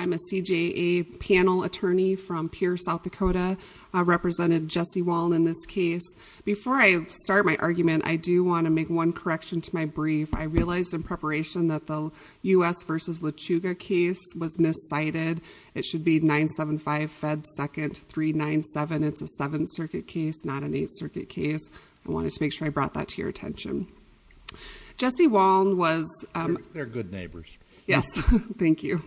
I'm a CJA panel attorney from Pierce, SD, representing Jesse Waln in this case. Before I start my argument, I do want to make one correction to my brief. I realized in preparation that the U.S. v. LeChuga case was miscited. It should be 975 Fed 2nd 397. It's a Seventh Circuit case, not an Eighth Circuit case. I wanted to make sure I brought that to your attention. Jesse Waln was... They're good neighbors. Yes, thank you.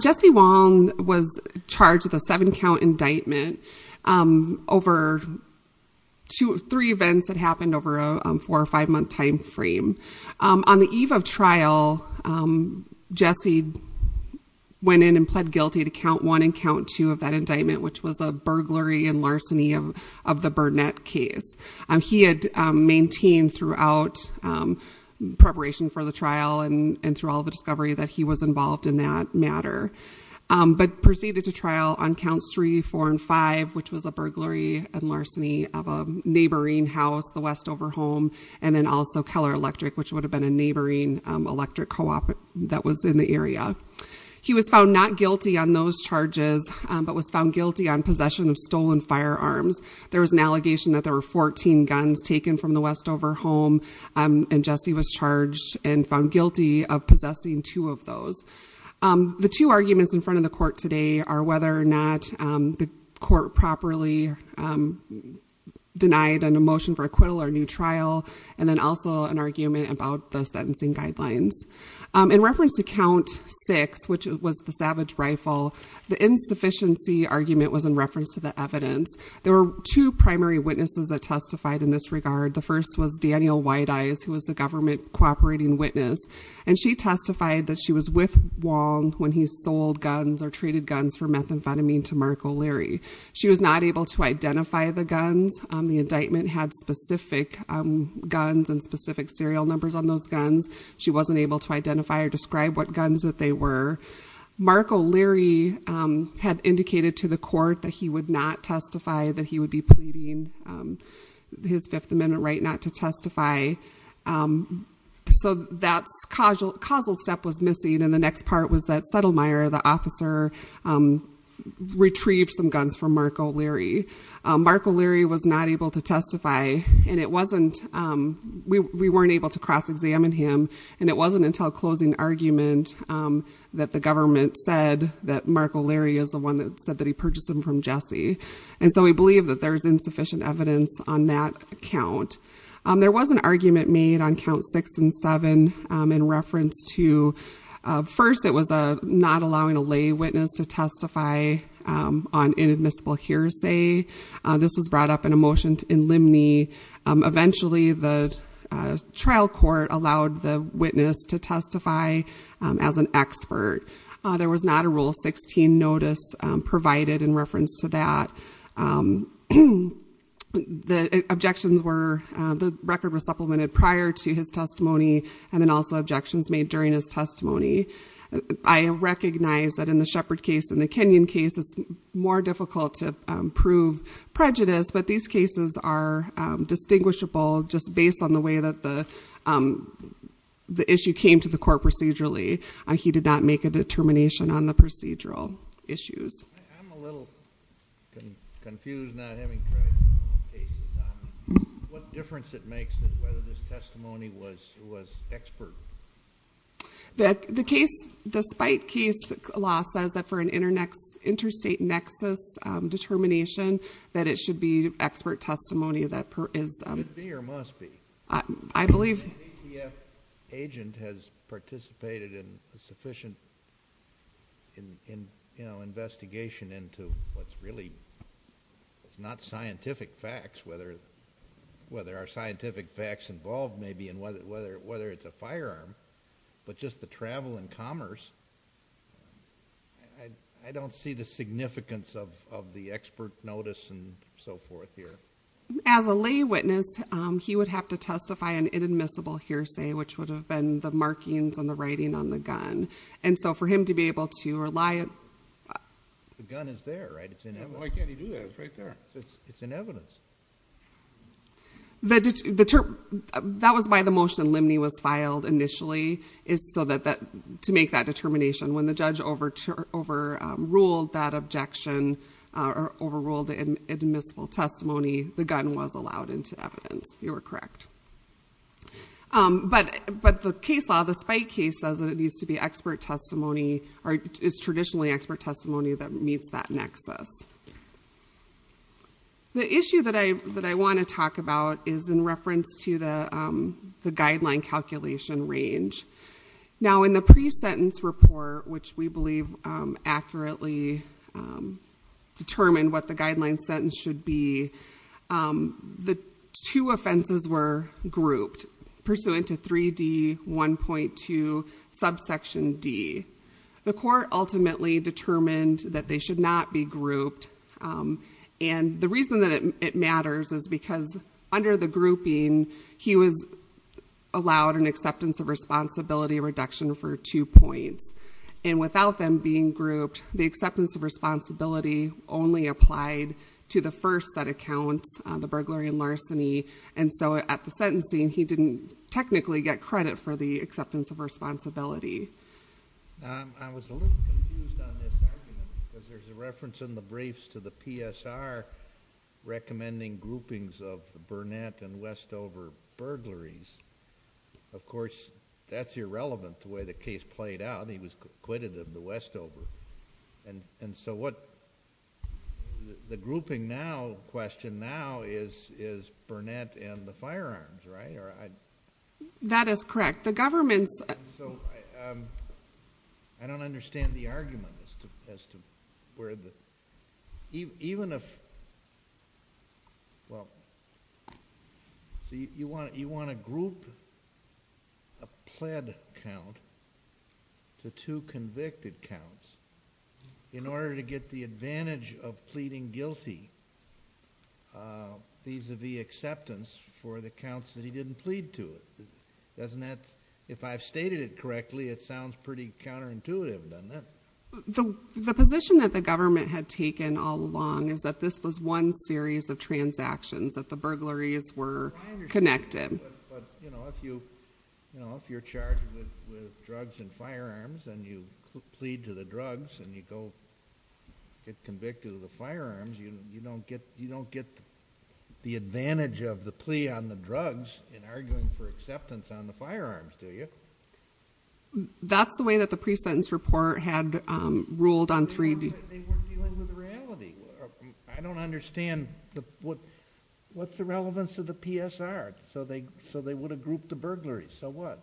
Jesse Waln was charged with a seven-count indictment over three events that happened over a four or five-month time frame. On the eve of trial, Jesse went in and pled guilty to count one and count two of that indictment, which was a burglary and larceny of the Burnett case. He had maintained throughout preparation for the trial and through all the discovery that he was involved in that matter, but proceeded to trial on counts three, four, and five, which was a burglary and larceny of a neighboring house, the Westover home, and then also Keller Electric, which would have been a neighboring electric co-op that was in the area. He was found not guilty on those charges, but was found guilty on possession of stolen firearms. There was an allegation that there were 14 guns taken from the Westover home, and Jesse was charged and found guilty of possessing two of those. The two arguments in front of the court today are whether or not the court properly denied an emotion for acquittal or new trial, and then also an argument about the sentencing guidelines. In reference to count six, which was the Savage Rifle, the insufficiency argument was in reference to the evidence. There were two primary witnesses that testified in this regard. The first was Daniel Wideyes, who was the government cooperating witness, and she testified that she was with Wong when he sold guns or traded guns for methamphetamine to Mark O'Leary. She was not able to identify the guns. The indictment had specific guns and specific serial numbers on those guns. She wasn't able to identify or describe what guns that they were. Mark O'Leary had indicated to the court that he would not testify, that he would be pleading his Fifth Amendment right not to testify. So that causal step was missing, and the next part was that Settlemyer, the officer, retrieved some guns from Mark O'Leary. Mark O'Leary was not able to testify, and we weren't able to cross-examine him, and it wasn't until closing argument that the government said that Mark O'Leary is the one that said that he purchased them from Jesse. And so we believe that there's insufficient evidence on that count. There was an argument made on count six and seven in reference to, first, it was not allowing a lay witness to testify on inadmissible hearsay. This was brought up in a motion in Limney. Eventually the trial court allowed the witness to testify as an expert. There was not a Rule 16 notice provided in reference to that. The objections were, the record was supplemented prior to his testimony, and then also objections made during his testimony. I recognize that in the Shepard case and the Kenyon case, it's more difficult to prove prejudice, but these cases are distinguishable just based on the way that the issue came to the court procedurally. He did not make a determination on the procedural issues. I'm a little confused not having tried criminal cases. What difference it makes is whether this testimony was expert. The case, the Spite case law says that for an interstate nexus determination, that it should be expert testimony that is... Should be or must be. I believe... Investigation into what's really not scientific facts, whether there are scientific facts involved maybe and whether it's a firearm, but just the travel and commerce, I don't see the significance of the expert notice and so forth here. As a lay witness, he would have to testify on inadmissible hearsay, which would have And so for him to be able to rely on... The gun is there, right? It's in evidence. Why can't he do that? It's right there. It's in evidence. That was why the motion in Limney was filed initially, is so that to make that determination. When the judge overruled that objection or overruled the admissible testimony, the gun was allowed into evidence, you were correct. But the case law, the Spite case says that it needs to be expert testimony or it's traditionally expert testimony that meets that nexus. The issue that I want to talk about is in reference to the guideline calculation range. Now in the pre-sentence report, which we believe accurately determined what the guideline sentence should be, the two offenses were grouped pursuant to 3D1.2 subsection D. The court ultimately determined that they should not be grouped and the reason that it matters is because under the grouping, he was allowed an acceptance of responsibility reduction for two points and without them being grouped, the acceptance of responsibility only applied to the first set account, the burglary and larceny and so at the sentencing, he didn't technically get credit for the acceptance of responsibility. I was a little confused on this argument because there's a reference in the briefs to the PSR recommending groupings of the Burnett and Westover burglaries. Of course, that's irrelevant to the way the case played out. He was acquitted of the Westover. The grouping now, the question now is Burnett and the firearms, right? That is correct. The government's... I don't understand the argument as to where the... Even if... You want to group a pled count to two convicted counts in order to get the advantage of pleading guilty vis-a-vis acceptance for the counts that he didn't plead to, doesn't that... If I've stated it correctly, it sounds pretty counterintuitive, doesn't it? The position that the government had taken all along is that this was one series of transactions that the burglaries were connected. If you're charged with drugs and firearms and you plead to the drugs and you go get convicted of the firearms, you don't get the advantage of the plea on the drugs in arguing for acceptance on the firearms, do you? That's the way that the pre-sentence report had ruled on three... They weren't dealing with reality. I don't understand what's the relevance of the PSR. They would have grouped the burglaries, so what?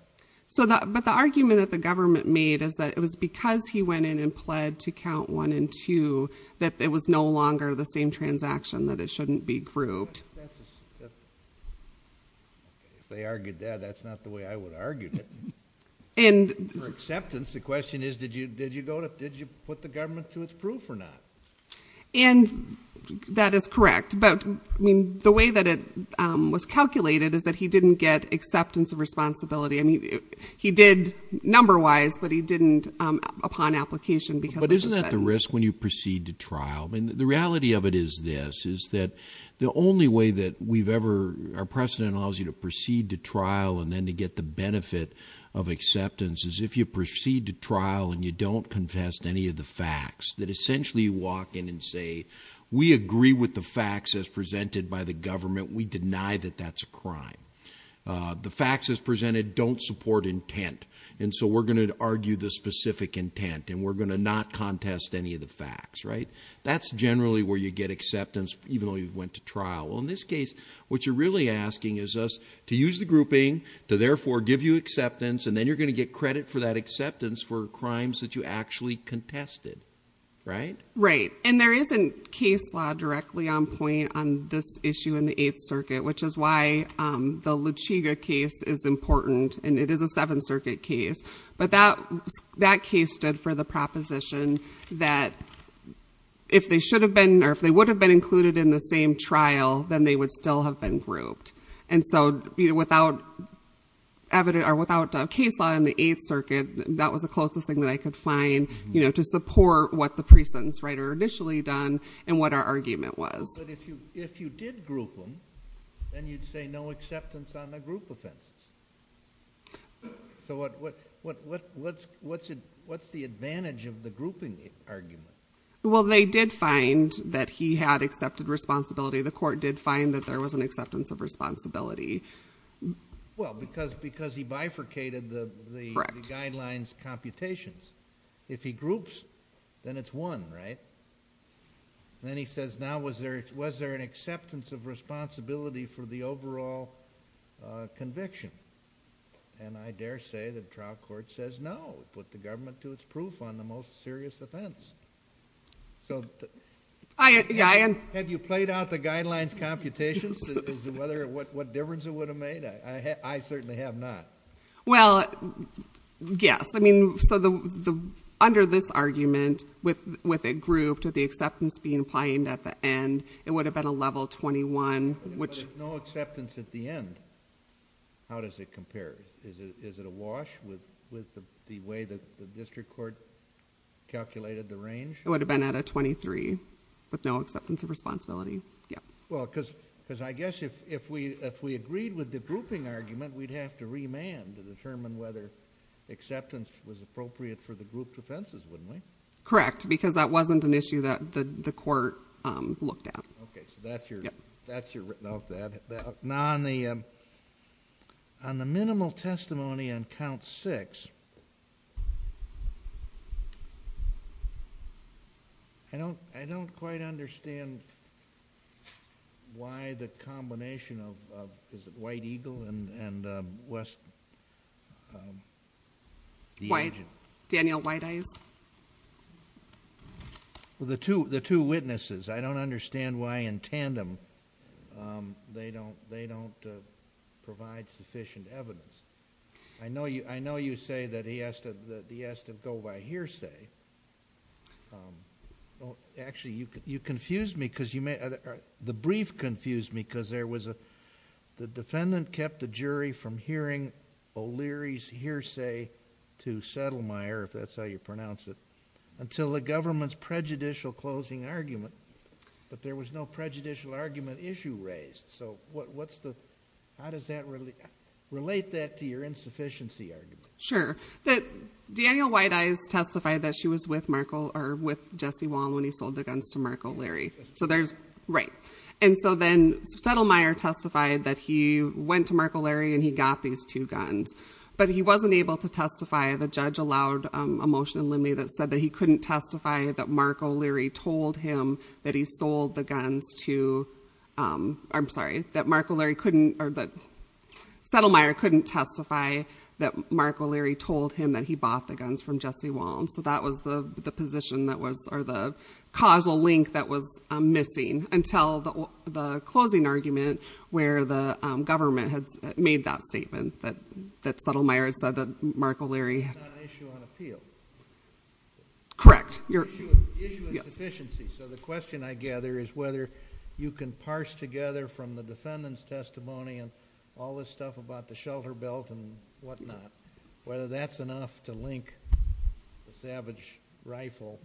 The argument that the government made is that it was because he went in and pled to count one and two that it was no longer the same transaction, that it shouldn't be grouped. If they argued that, that's not the way I would argue it. For acceptance, the question is, did you put the government to its proof or not? That is correct. But the way that it was calculated is that he didn't get acceptance of responsibility. He did number-wise, but he didn't upon application because of the sentence. But isn't that the risk when you proceed to trial? The reality of it is this, is that the only way that we've ever... Our precedent allows you to proceed to trial and then to get the benefit of acceptance is if you proceed to trial and you don't confess to any of the facts, that essentially you walk in and say, we agree with the facts as presented by the government. We deny that that's a crime. The facts as presented don't support intent, and so we're going to argue the specific intent and we're going to not contest any of the facts. That's generally where you get acceptance, even though you went to trial. Well, in this case, what you're really asking is us to use the grouping, to therefore give you acceptance, and then you're going to get credit for that acceptance for crimes that you actually contested, right? Right. And there isn't case law directly on point on this issue in the Eighth Circuit, which is why the Luchiga case is important, and it is a Seventh Circuit case. But that case stood for the proposition that if they should have been, or if they would have been included in the same trial, then they would still have been grouped. And so without evidence, or without case law in the Eighth Circuit, that was the closest thing that I could find to support what the pre-sentence writer initially done and what our argument was. But if you did group them, then you'd say no acceptance on the group offense. So what's the advantage of the grouping argument? Well, they did find that he had accepted responsibility. Well, because he bifurcated the guidelines computations. If he groups, then it's one, right? Then he says, now was there an acceptance of responsibility for the overall conviction? And I dare say the trial court says no, put the government to its proof on the most serious offense. So have you played out the guidelines computations? What difference it would have made? I certainly have not. Well, yes. I mean, so under this argument, with it grouped, with the acceptance being claimed at the end, it would have been a level 21, which- But if there's no acceptance at the end, how does it compare? Is it a wash with the way that the district court calculated the range? It would have been at a 23, with no acceptance of responsibility, yeah. Well, because I guess if we agreed with the grouping argument, we'd have to remand to determine whether acceptance was appropriate for the grouped offenses, wouldn't we? Correct, because that wasn't an issue that the court looked at. Okay, so that's your- Yep. That's your- No, that- Now, on the minimal testimony on count six, I don't quite understand why the combination of, is it White Eagle and West- White, Daniel White Eyes. The two witnesses, I don't understand why in tandem they don't provide sufficient evidence. I know you say that he has to go by hearsay. Actually you confused me, because you may, the brief confused me, because there was a, the defendant kept the jury from hearing O'Leary's hearsay to Settlemire, if that's how you pronounce it, until the government's prejudicial closing argument, but there was no prejudicial argument issue raised. So what's the, how does that relate, relate that to your insufficiency argument? Sure. That Daniel White Eyes testified that she was with Markle, or with Jesse Wall when he sold the guns to Markle Leary. So there's, right. And so then Settlemire testified that he went to Markle Leary and he got these two guns, but he wasn't able to testify. The judge allowed a motion in Lindley that said that he couldn't testify that Markle Leary told him that he sold the guns to, I'm sorry, that Markle Leary couldn't, or that Settlemire couldn't testify that Markle Leary told him that he bought the guns from Jesse Wall. So that was the position that was, or the causal link that was missing until the closing argument where the government had made that statement that Settlemire said that Markle Leary. It's not an issue on appeal. Correct. Issue of insufficiency. Yes. So the question I gather is whether you can parse together from the defendant's testimony and all this stuff about the shelter belt and whatnot, whether that's enough to link the Savage rifle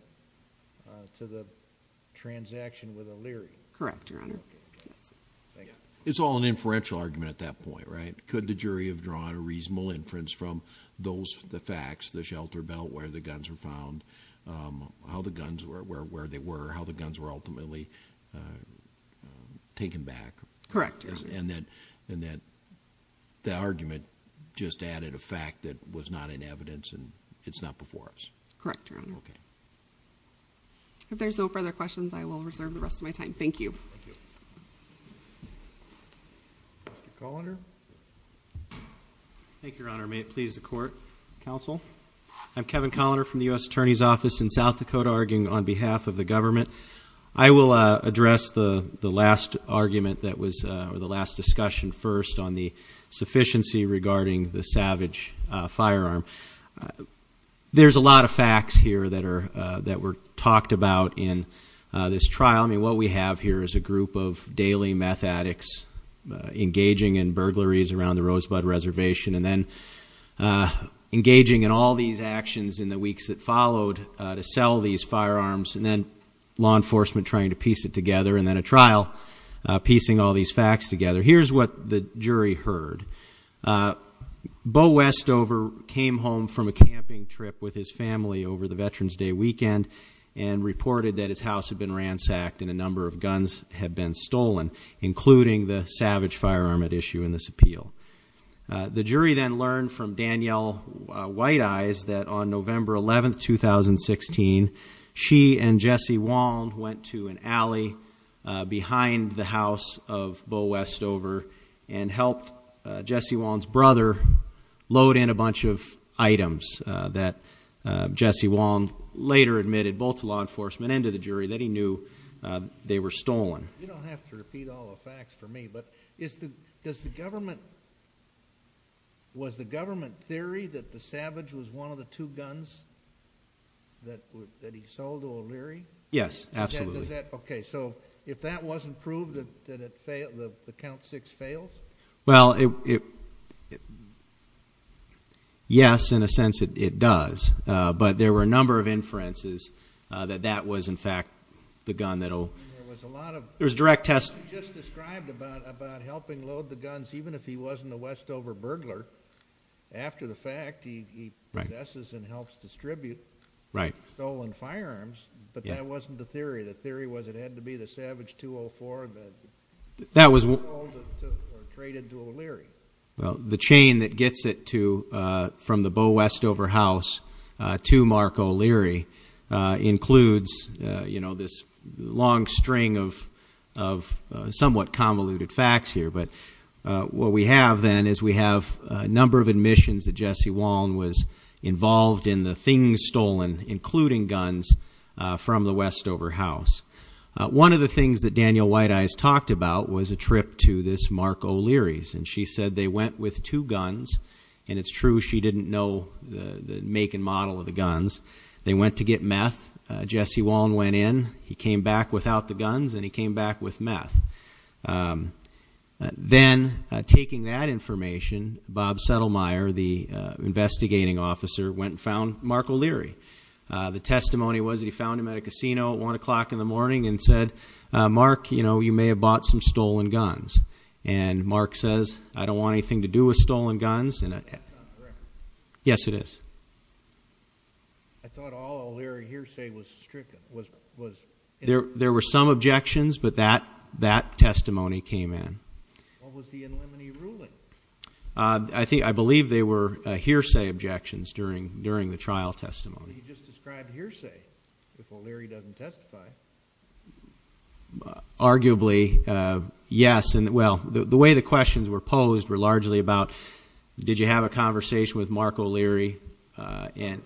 to the transaction with the Leary. Correct, Your Honor. Yes. Thank you. It's all an inferential argument at that point, right? Could the jury have drawn a reasonable inference from those, the facts, the shelter belt, where the guns were found, how the guns were, where they were, how the guns were ultimately taken back? Correct, Your Honor. And that, and that the argument just added a fact that was not in evidence and it's not before us. Correct, Your Honor. Okay. If there's no further questions, I will reserve the rest of my time. Thank you. Dr. Colander. Thank you, Your Honor. May it please the court. Counsel? I'm Kevin Colander from the U.S. Attorney's Office in South Dakota arguing on behalf of the government. I will address the last argument that was, or the last discussion first on the sufficiency regarding the Savage firearm. There's a lot of facts here that were talked about in this trial. What we have here is a group of daily meth addicts engaging in burglaries around the Rosebud Reservation and then engaging in all these actions in the weeks that followed to sell these firearms and then law enforcement trying to piece it together and then a trial piecing all these facts together. Here's what the jury heard. Bo Westover came home from a camping trip with his family over the Veterans Day weekend and reported that his house had been ransacked and a number of guns had been stolen, including the Savage firearm at issue in this appeal. The jury then learned from Danielle White-Eyes that on November 11th, 2016, she and Jesse Waln went to an alley behind the house of Bo Westover and helped Jesse Waln's brother load in a bunch of items that Jesse Waln later admitted both to law enforcement and to the jury that he knew they were stolen. You don't have to repeat all the facts for me, but is the, does the government, was the government theory that the Savage was one of the two guns that he sold to O'Leary? Yes. Absolutely. Okay. So if that wasn't proved, that it failed, the count six fails? Well, it, yes, in a sense it does. But there were a number of inferences that that was in fact the gun that'll, there's direct test. You just described about, about helping load the guns, even if he wasn't a Westover burglar, after the fact he, he, he messes and helps distribute stolen firearms, but that wasn't the theory. The theory was it had to be the Savage 204 that he sold or traded to O'Leary. Well, the chain that gets it to, from the Bo Westover house to Mark O'Leary includes, you know, this long string of, of somewhat convoluted facts here, but what we have then is we have a number of admissions that Jesse Waln was involved in the things stolen, including guns from the Westover house. One of the things that Daniel White Eyes talked about was a trip to this Mark O'Leary's and she said they went with two guns and it's true. She didn't know the make and model of the guns. They went to get meth, Jesse Waln went in, he came back without the guns and he came back with meth. Then taking that information, Bob Settlemire, the investigating officer went and found Mark O'Leary. The testimony was that he found him at a casino at one o'clock in the morning and said, Mark, you know, you may have bought some stolen guns. And Mark says, I don't want anything to do with stolen guns. Yes it is. There were some objections, but that, that testimony came in. I think, I believe they were hearsay objections during, during the trial testimony. Arguably. Yes. And well, the way the questions were posed were largely about, did you have a conversation with Mark O'Leary? In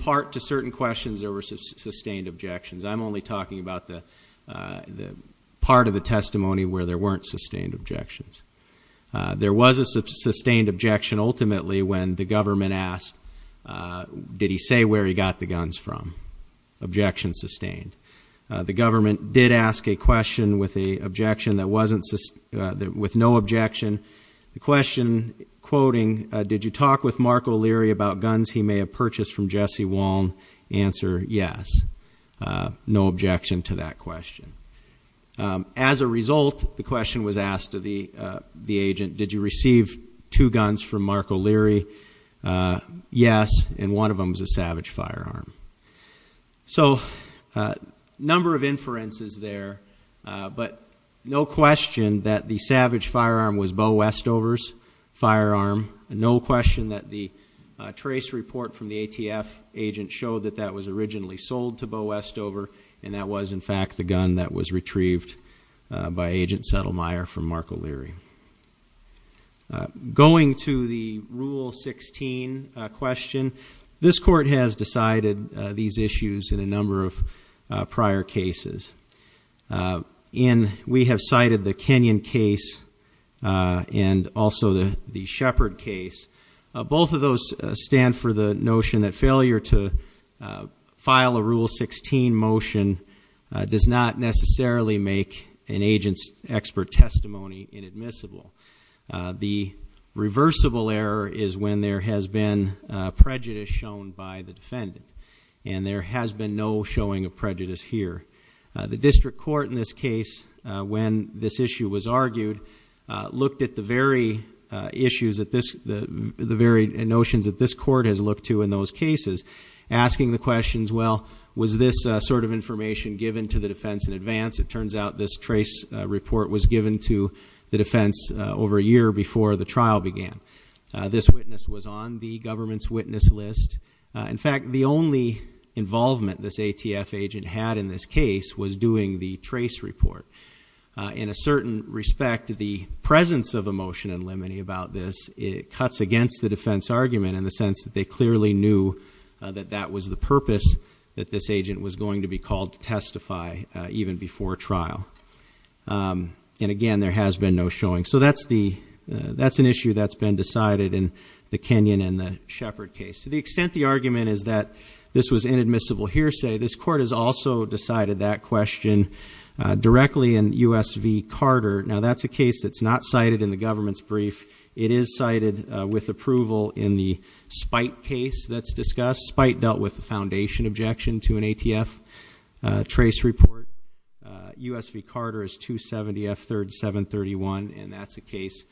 part to certain questions, there were sustained objections. I'm only talking about the part of the testimony where there weren't sustained objections. There was a sustained objection ultimately when the government asked, did he say where he got the guns from? Objection sustained. The government did ask a question with a objection that wasn't, with no objection. The question quoting, did you talk with Mark O'Leary about guns he may have purchased from Jesse Waln? Answer, yes. No objection to that question. As a result, the question was asked to the, the agent, did you receive two guns from Mark O'Leary? Yes. And one of them was a Savage firearm. So a number of inferences there. But no question that the Savage firearm was Bo Westover's firearm. No question that the trace report from the ATF agent showed that that was originally sold to Bo Westover, and that was in fact the gun that was retrieved by Agent Settlemire from Mark O'Leary. Going to the Rule 16 question, this court has decided these issues in a number of prior cases. In, we have cited the Kenyon case and also the Shepard case. Both of those stand for the notion that failure to file a Rule 16 motion does not necessarily make an agent's expert testimony inadmissible. The reversible error is when there has been prejudice shown by the defendant. And there has been no showing of prejudice here. The district court in this case, when this issue was argued, looked at the very issues that this, the, the very notions that this court has looked to in those cases, asking the questions, well, was this sort of information given to the defense in advance? It turns out this trace report was given to the defense over a year before the trial began. This witness was on the government's witness list. In fact, the only involvement this ATF agent had in this case was doing the trace report. In a certain respect, the presence of emotion and liminy about this, it cuts against the defense argument in the sense that they clearly knew that that was the purpose that this agent was going to be called to testify even before trial. And again, there has been no showing. So that's the, that's an issue that's been decided in the Kenyon and the Shepard case. To the extent the argument is that this was inadmissible hearsay, this court has also decided that question directly in USV Carter. Now, that's a case that's not cited in the government's brief. It is cited with approval in the Spite case that's discussed. Spite dealt with the foundation objection to an ATF trace report. USV Carter is 270 F 3rd 731, and that's a case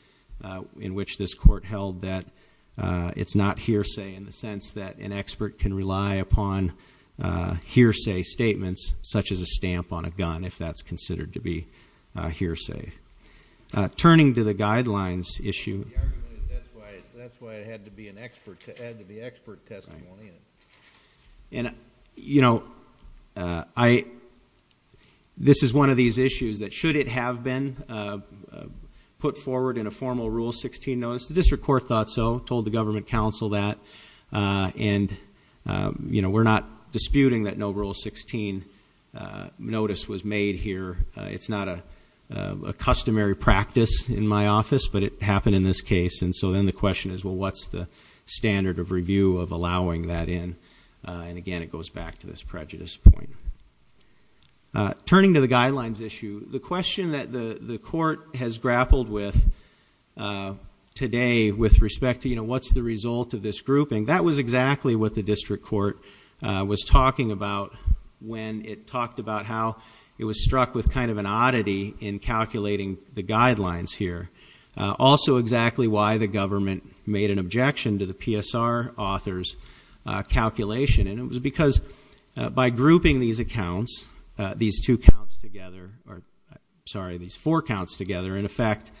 in which this court held that it's not hearsay in the sense that an expert can rely upon hearsay statements, such as a stamp on a gun, if that's considered to be hearsay. Turning to the guidelines issue. The argument is that's why it had to be an expert, it had to be expert testimony in it. And I, this is one of these issues that should it have been put forward in a formal rule 16 notice. The district court thought so, told the government council that. And we're not disputing that no rule 16 notice was made here. It's not a customary practice in my office, but it happened in this case. And so then the question is, well, what's the standard of review of allowing that in? And again, it goes back to this prejudice point. Turning to the guidelines issue, the question that the court has grappled with today with respect to what's the result of this grouping, that was exactly what the district court was talking about when it talked about how it was struck with kind of an oddity in calculating the guidelines here. Also exactly why the government made an objection to the PSR author's calculation. And it was because by grouping these accounts, these two counts together, or sorry, these four counts together, in effect,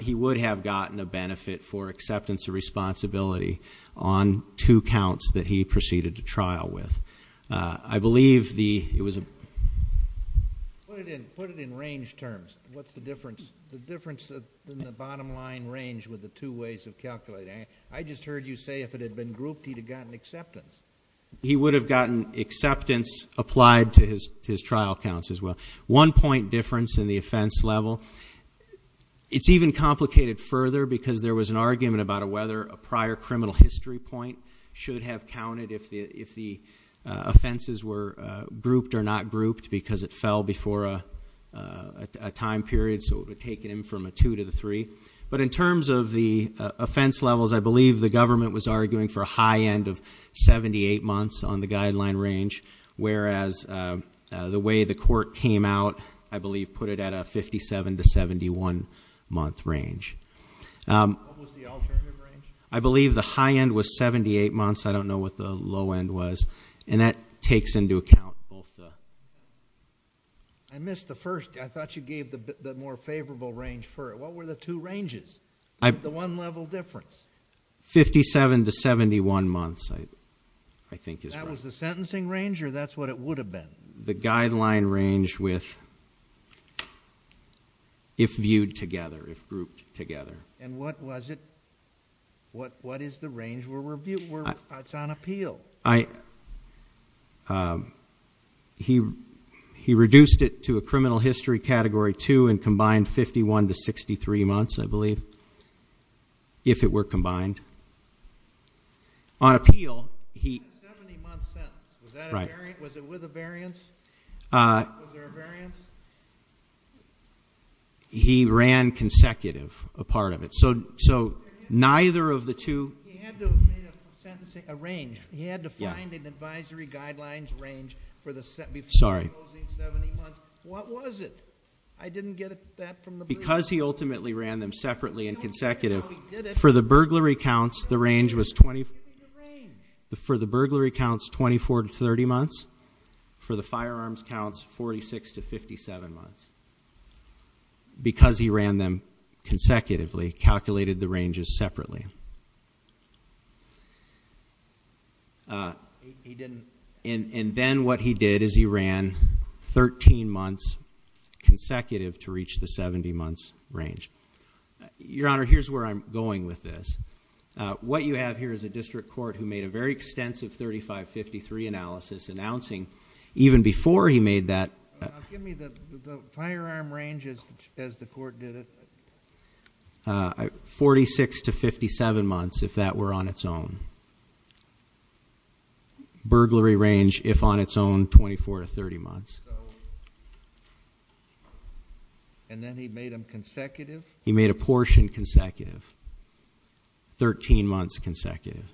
he would have gotten a benefit for acceptance of responsibility on two counts that he proceeded to trial with. I believe the, it was a- Put it in range terms. What's the difference? The difference in the bottom line range with the two ways of calculating. I just heard you say if it had been grouped, he'd have gotten acceptance. He would have gotten acceptance applied to his trial counts as well. One point difference in the offense level. It's even complicated further because there was an argument about whether a prior criminal history point should have counted if the offenses were grouped or not grouped because it fell before a time period. So it would have taken him from a two to the three. But in terms of the offense levels, I believe the government was arguing for a high end of 78 months on the guideline range. Whereas the way the court came out, I believe, put it at a 57 to 71 month range. What was the alternative range? I believe the high end was 78 months. I don't know what the low end was. And that takes into account both the. I missed the first. I thought you gave the more favorable range for it. What were the two ranges? The one level difference. 57 to 71 months, I think is right. That was the sentencing range or that's what it would have been? The guideline range with, if viewed together, if grouped together. And what was it? What is the range where it's on appeal? He reduced it to a criminal history category two and combined 51 to 63 months, I believe, if it were combined. On appeal, he- 70 months sentenced. Was that a variant? Was it with a variance? Was there a variance? He ran consecutive, a part of it. So, neither of the two- He had to have made a sentencing, a range. He had to find an advisory guidelines range for the- Sorry. Before closing 70 months. What was it? I didn't get that from the- Because he ultimately ran them separately and consecutive. For the burglary counts, the range was 24 to 30 months. For the firearms counts, 46 to 57 months. Because he ran them consecutively, calculated the ranges separately. He didn't- And then what he did is he ran 13 months consecutive to reach the 70 months range. Your Honor, here's where I'm going with this. What you have here is a district court who made a very extensive 3553 analysis announcing, even before he made that- Give me the firearm ranges as the court did it. 46 to 57 months, if that were on its own. Burglary range, if on its own, 24 to 30 months. And then he made them consecutive? He made a portion consecutive, 13 months consecutive.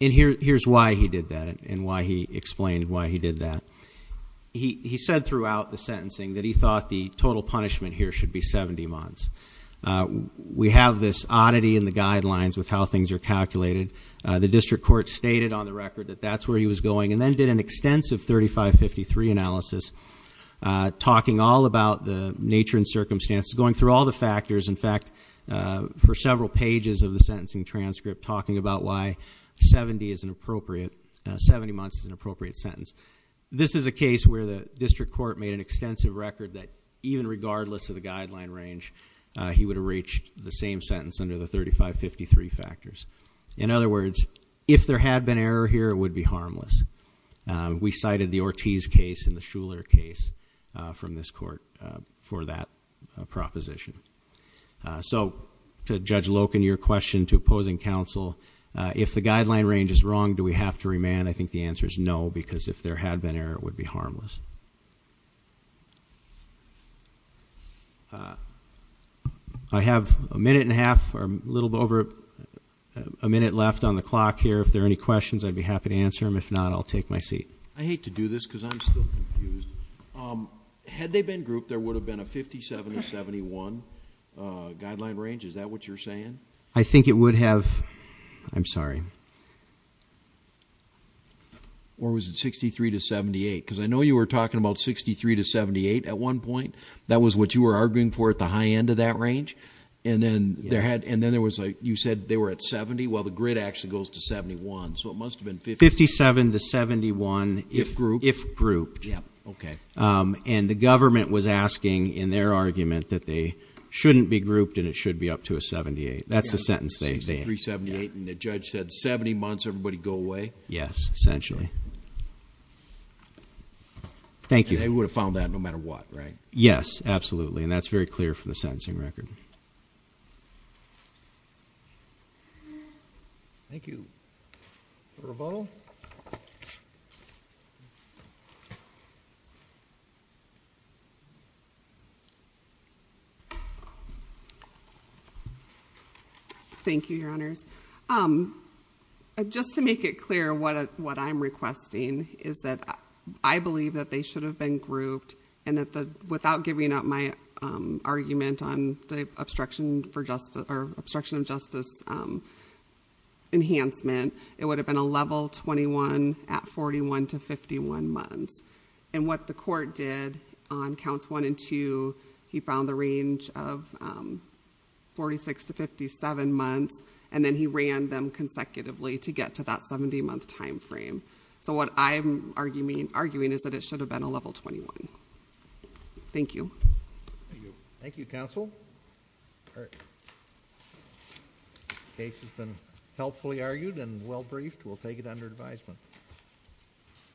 And here's why he did that and why he explained why he did that. He said throughout the sentencing that he thought the total punishment here should be 70 months. We have this oddity in the guidelines with how things are calculated. The district court stated on the record that that's where he was going and then did an extensive 3553 analysis. Talking all about the nature and circumstances, going through all the factors. In fact, for several pages of the sentencing transcript talking about why 70 months is an appropriate sentence. This is a case where the district court made an extensive record that even regardless of the guideline range, he would have reached the same sentence under the 3553 factors. In other words, if there had been error here, it would be harmless. We cited the Ortiz case and the Shuler case from this court for that proposition. So to Judge Loken, your question to opposing counsel, if the guideline range is wrong, do we have to remand? And I think the answer is no, because if there had been error, it would be harmless. I have a minute and a half, or a little over a minute left on the clock here. If there are any questions, I'd be happy to answer them. If not, I'll take my seat. I hate to do this because I'm still confused. Had they been grouped, there would have been a 57 to 71 guideline range. Is that what you're saying? I think it would have, I'm sorry. Or was it 63 to 78? because I know you were talking about 63 to 78 at one point. That was what you were arguing for at the high end of that range. And then there was a, you said they were at 70, well the grid actually goes to 71. So it must have been 57 to 71 if grouped. Yep, okay. And the government was asking in their argument that they shouldn't be grouped and it should be up to a 78. That's the sentence they- 63, 78, and the judge said 70 months, everybody go away? Yes, essentially. Thank you. And they would have found that no matter what, right? Yes, absolutely, and that's very clear from the sentencing record. Thank you. Rebel. Thank you, your honors. Just to make it clear what I'm requesting is that I believe that they should have been grouped and without giving up my argument on the obstruction of justice enhancement, it would have been a level 21 at 41 to 51 months. And what the court did on counts one and two, he found the range of 46 to 57 months, and then he ran them consecutively to get to that 70 month time frame. So what I'm arguing is that it should have been a level 21. Thank you. Thank you, counsel. Case has been helpfully argued and well briefed. We'll take it under advisement.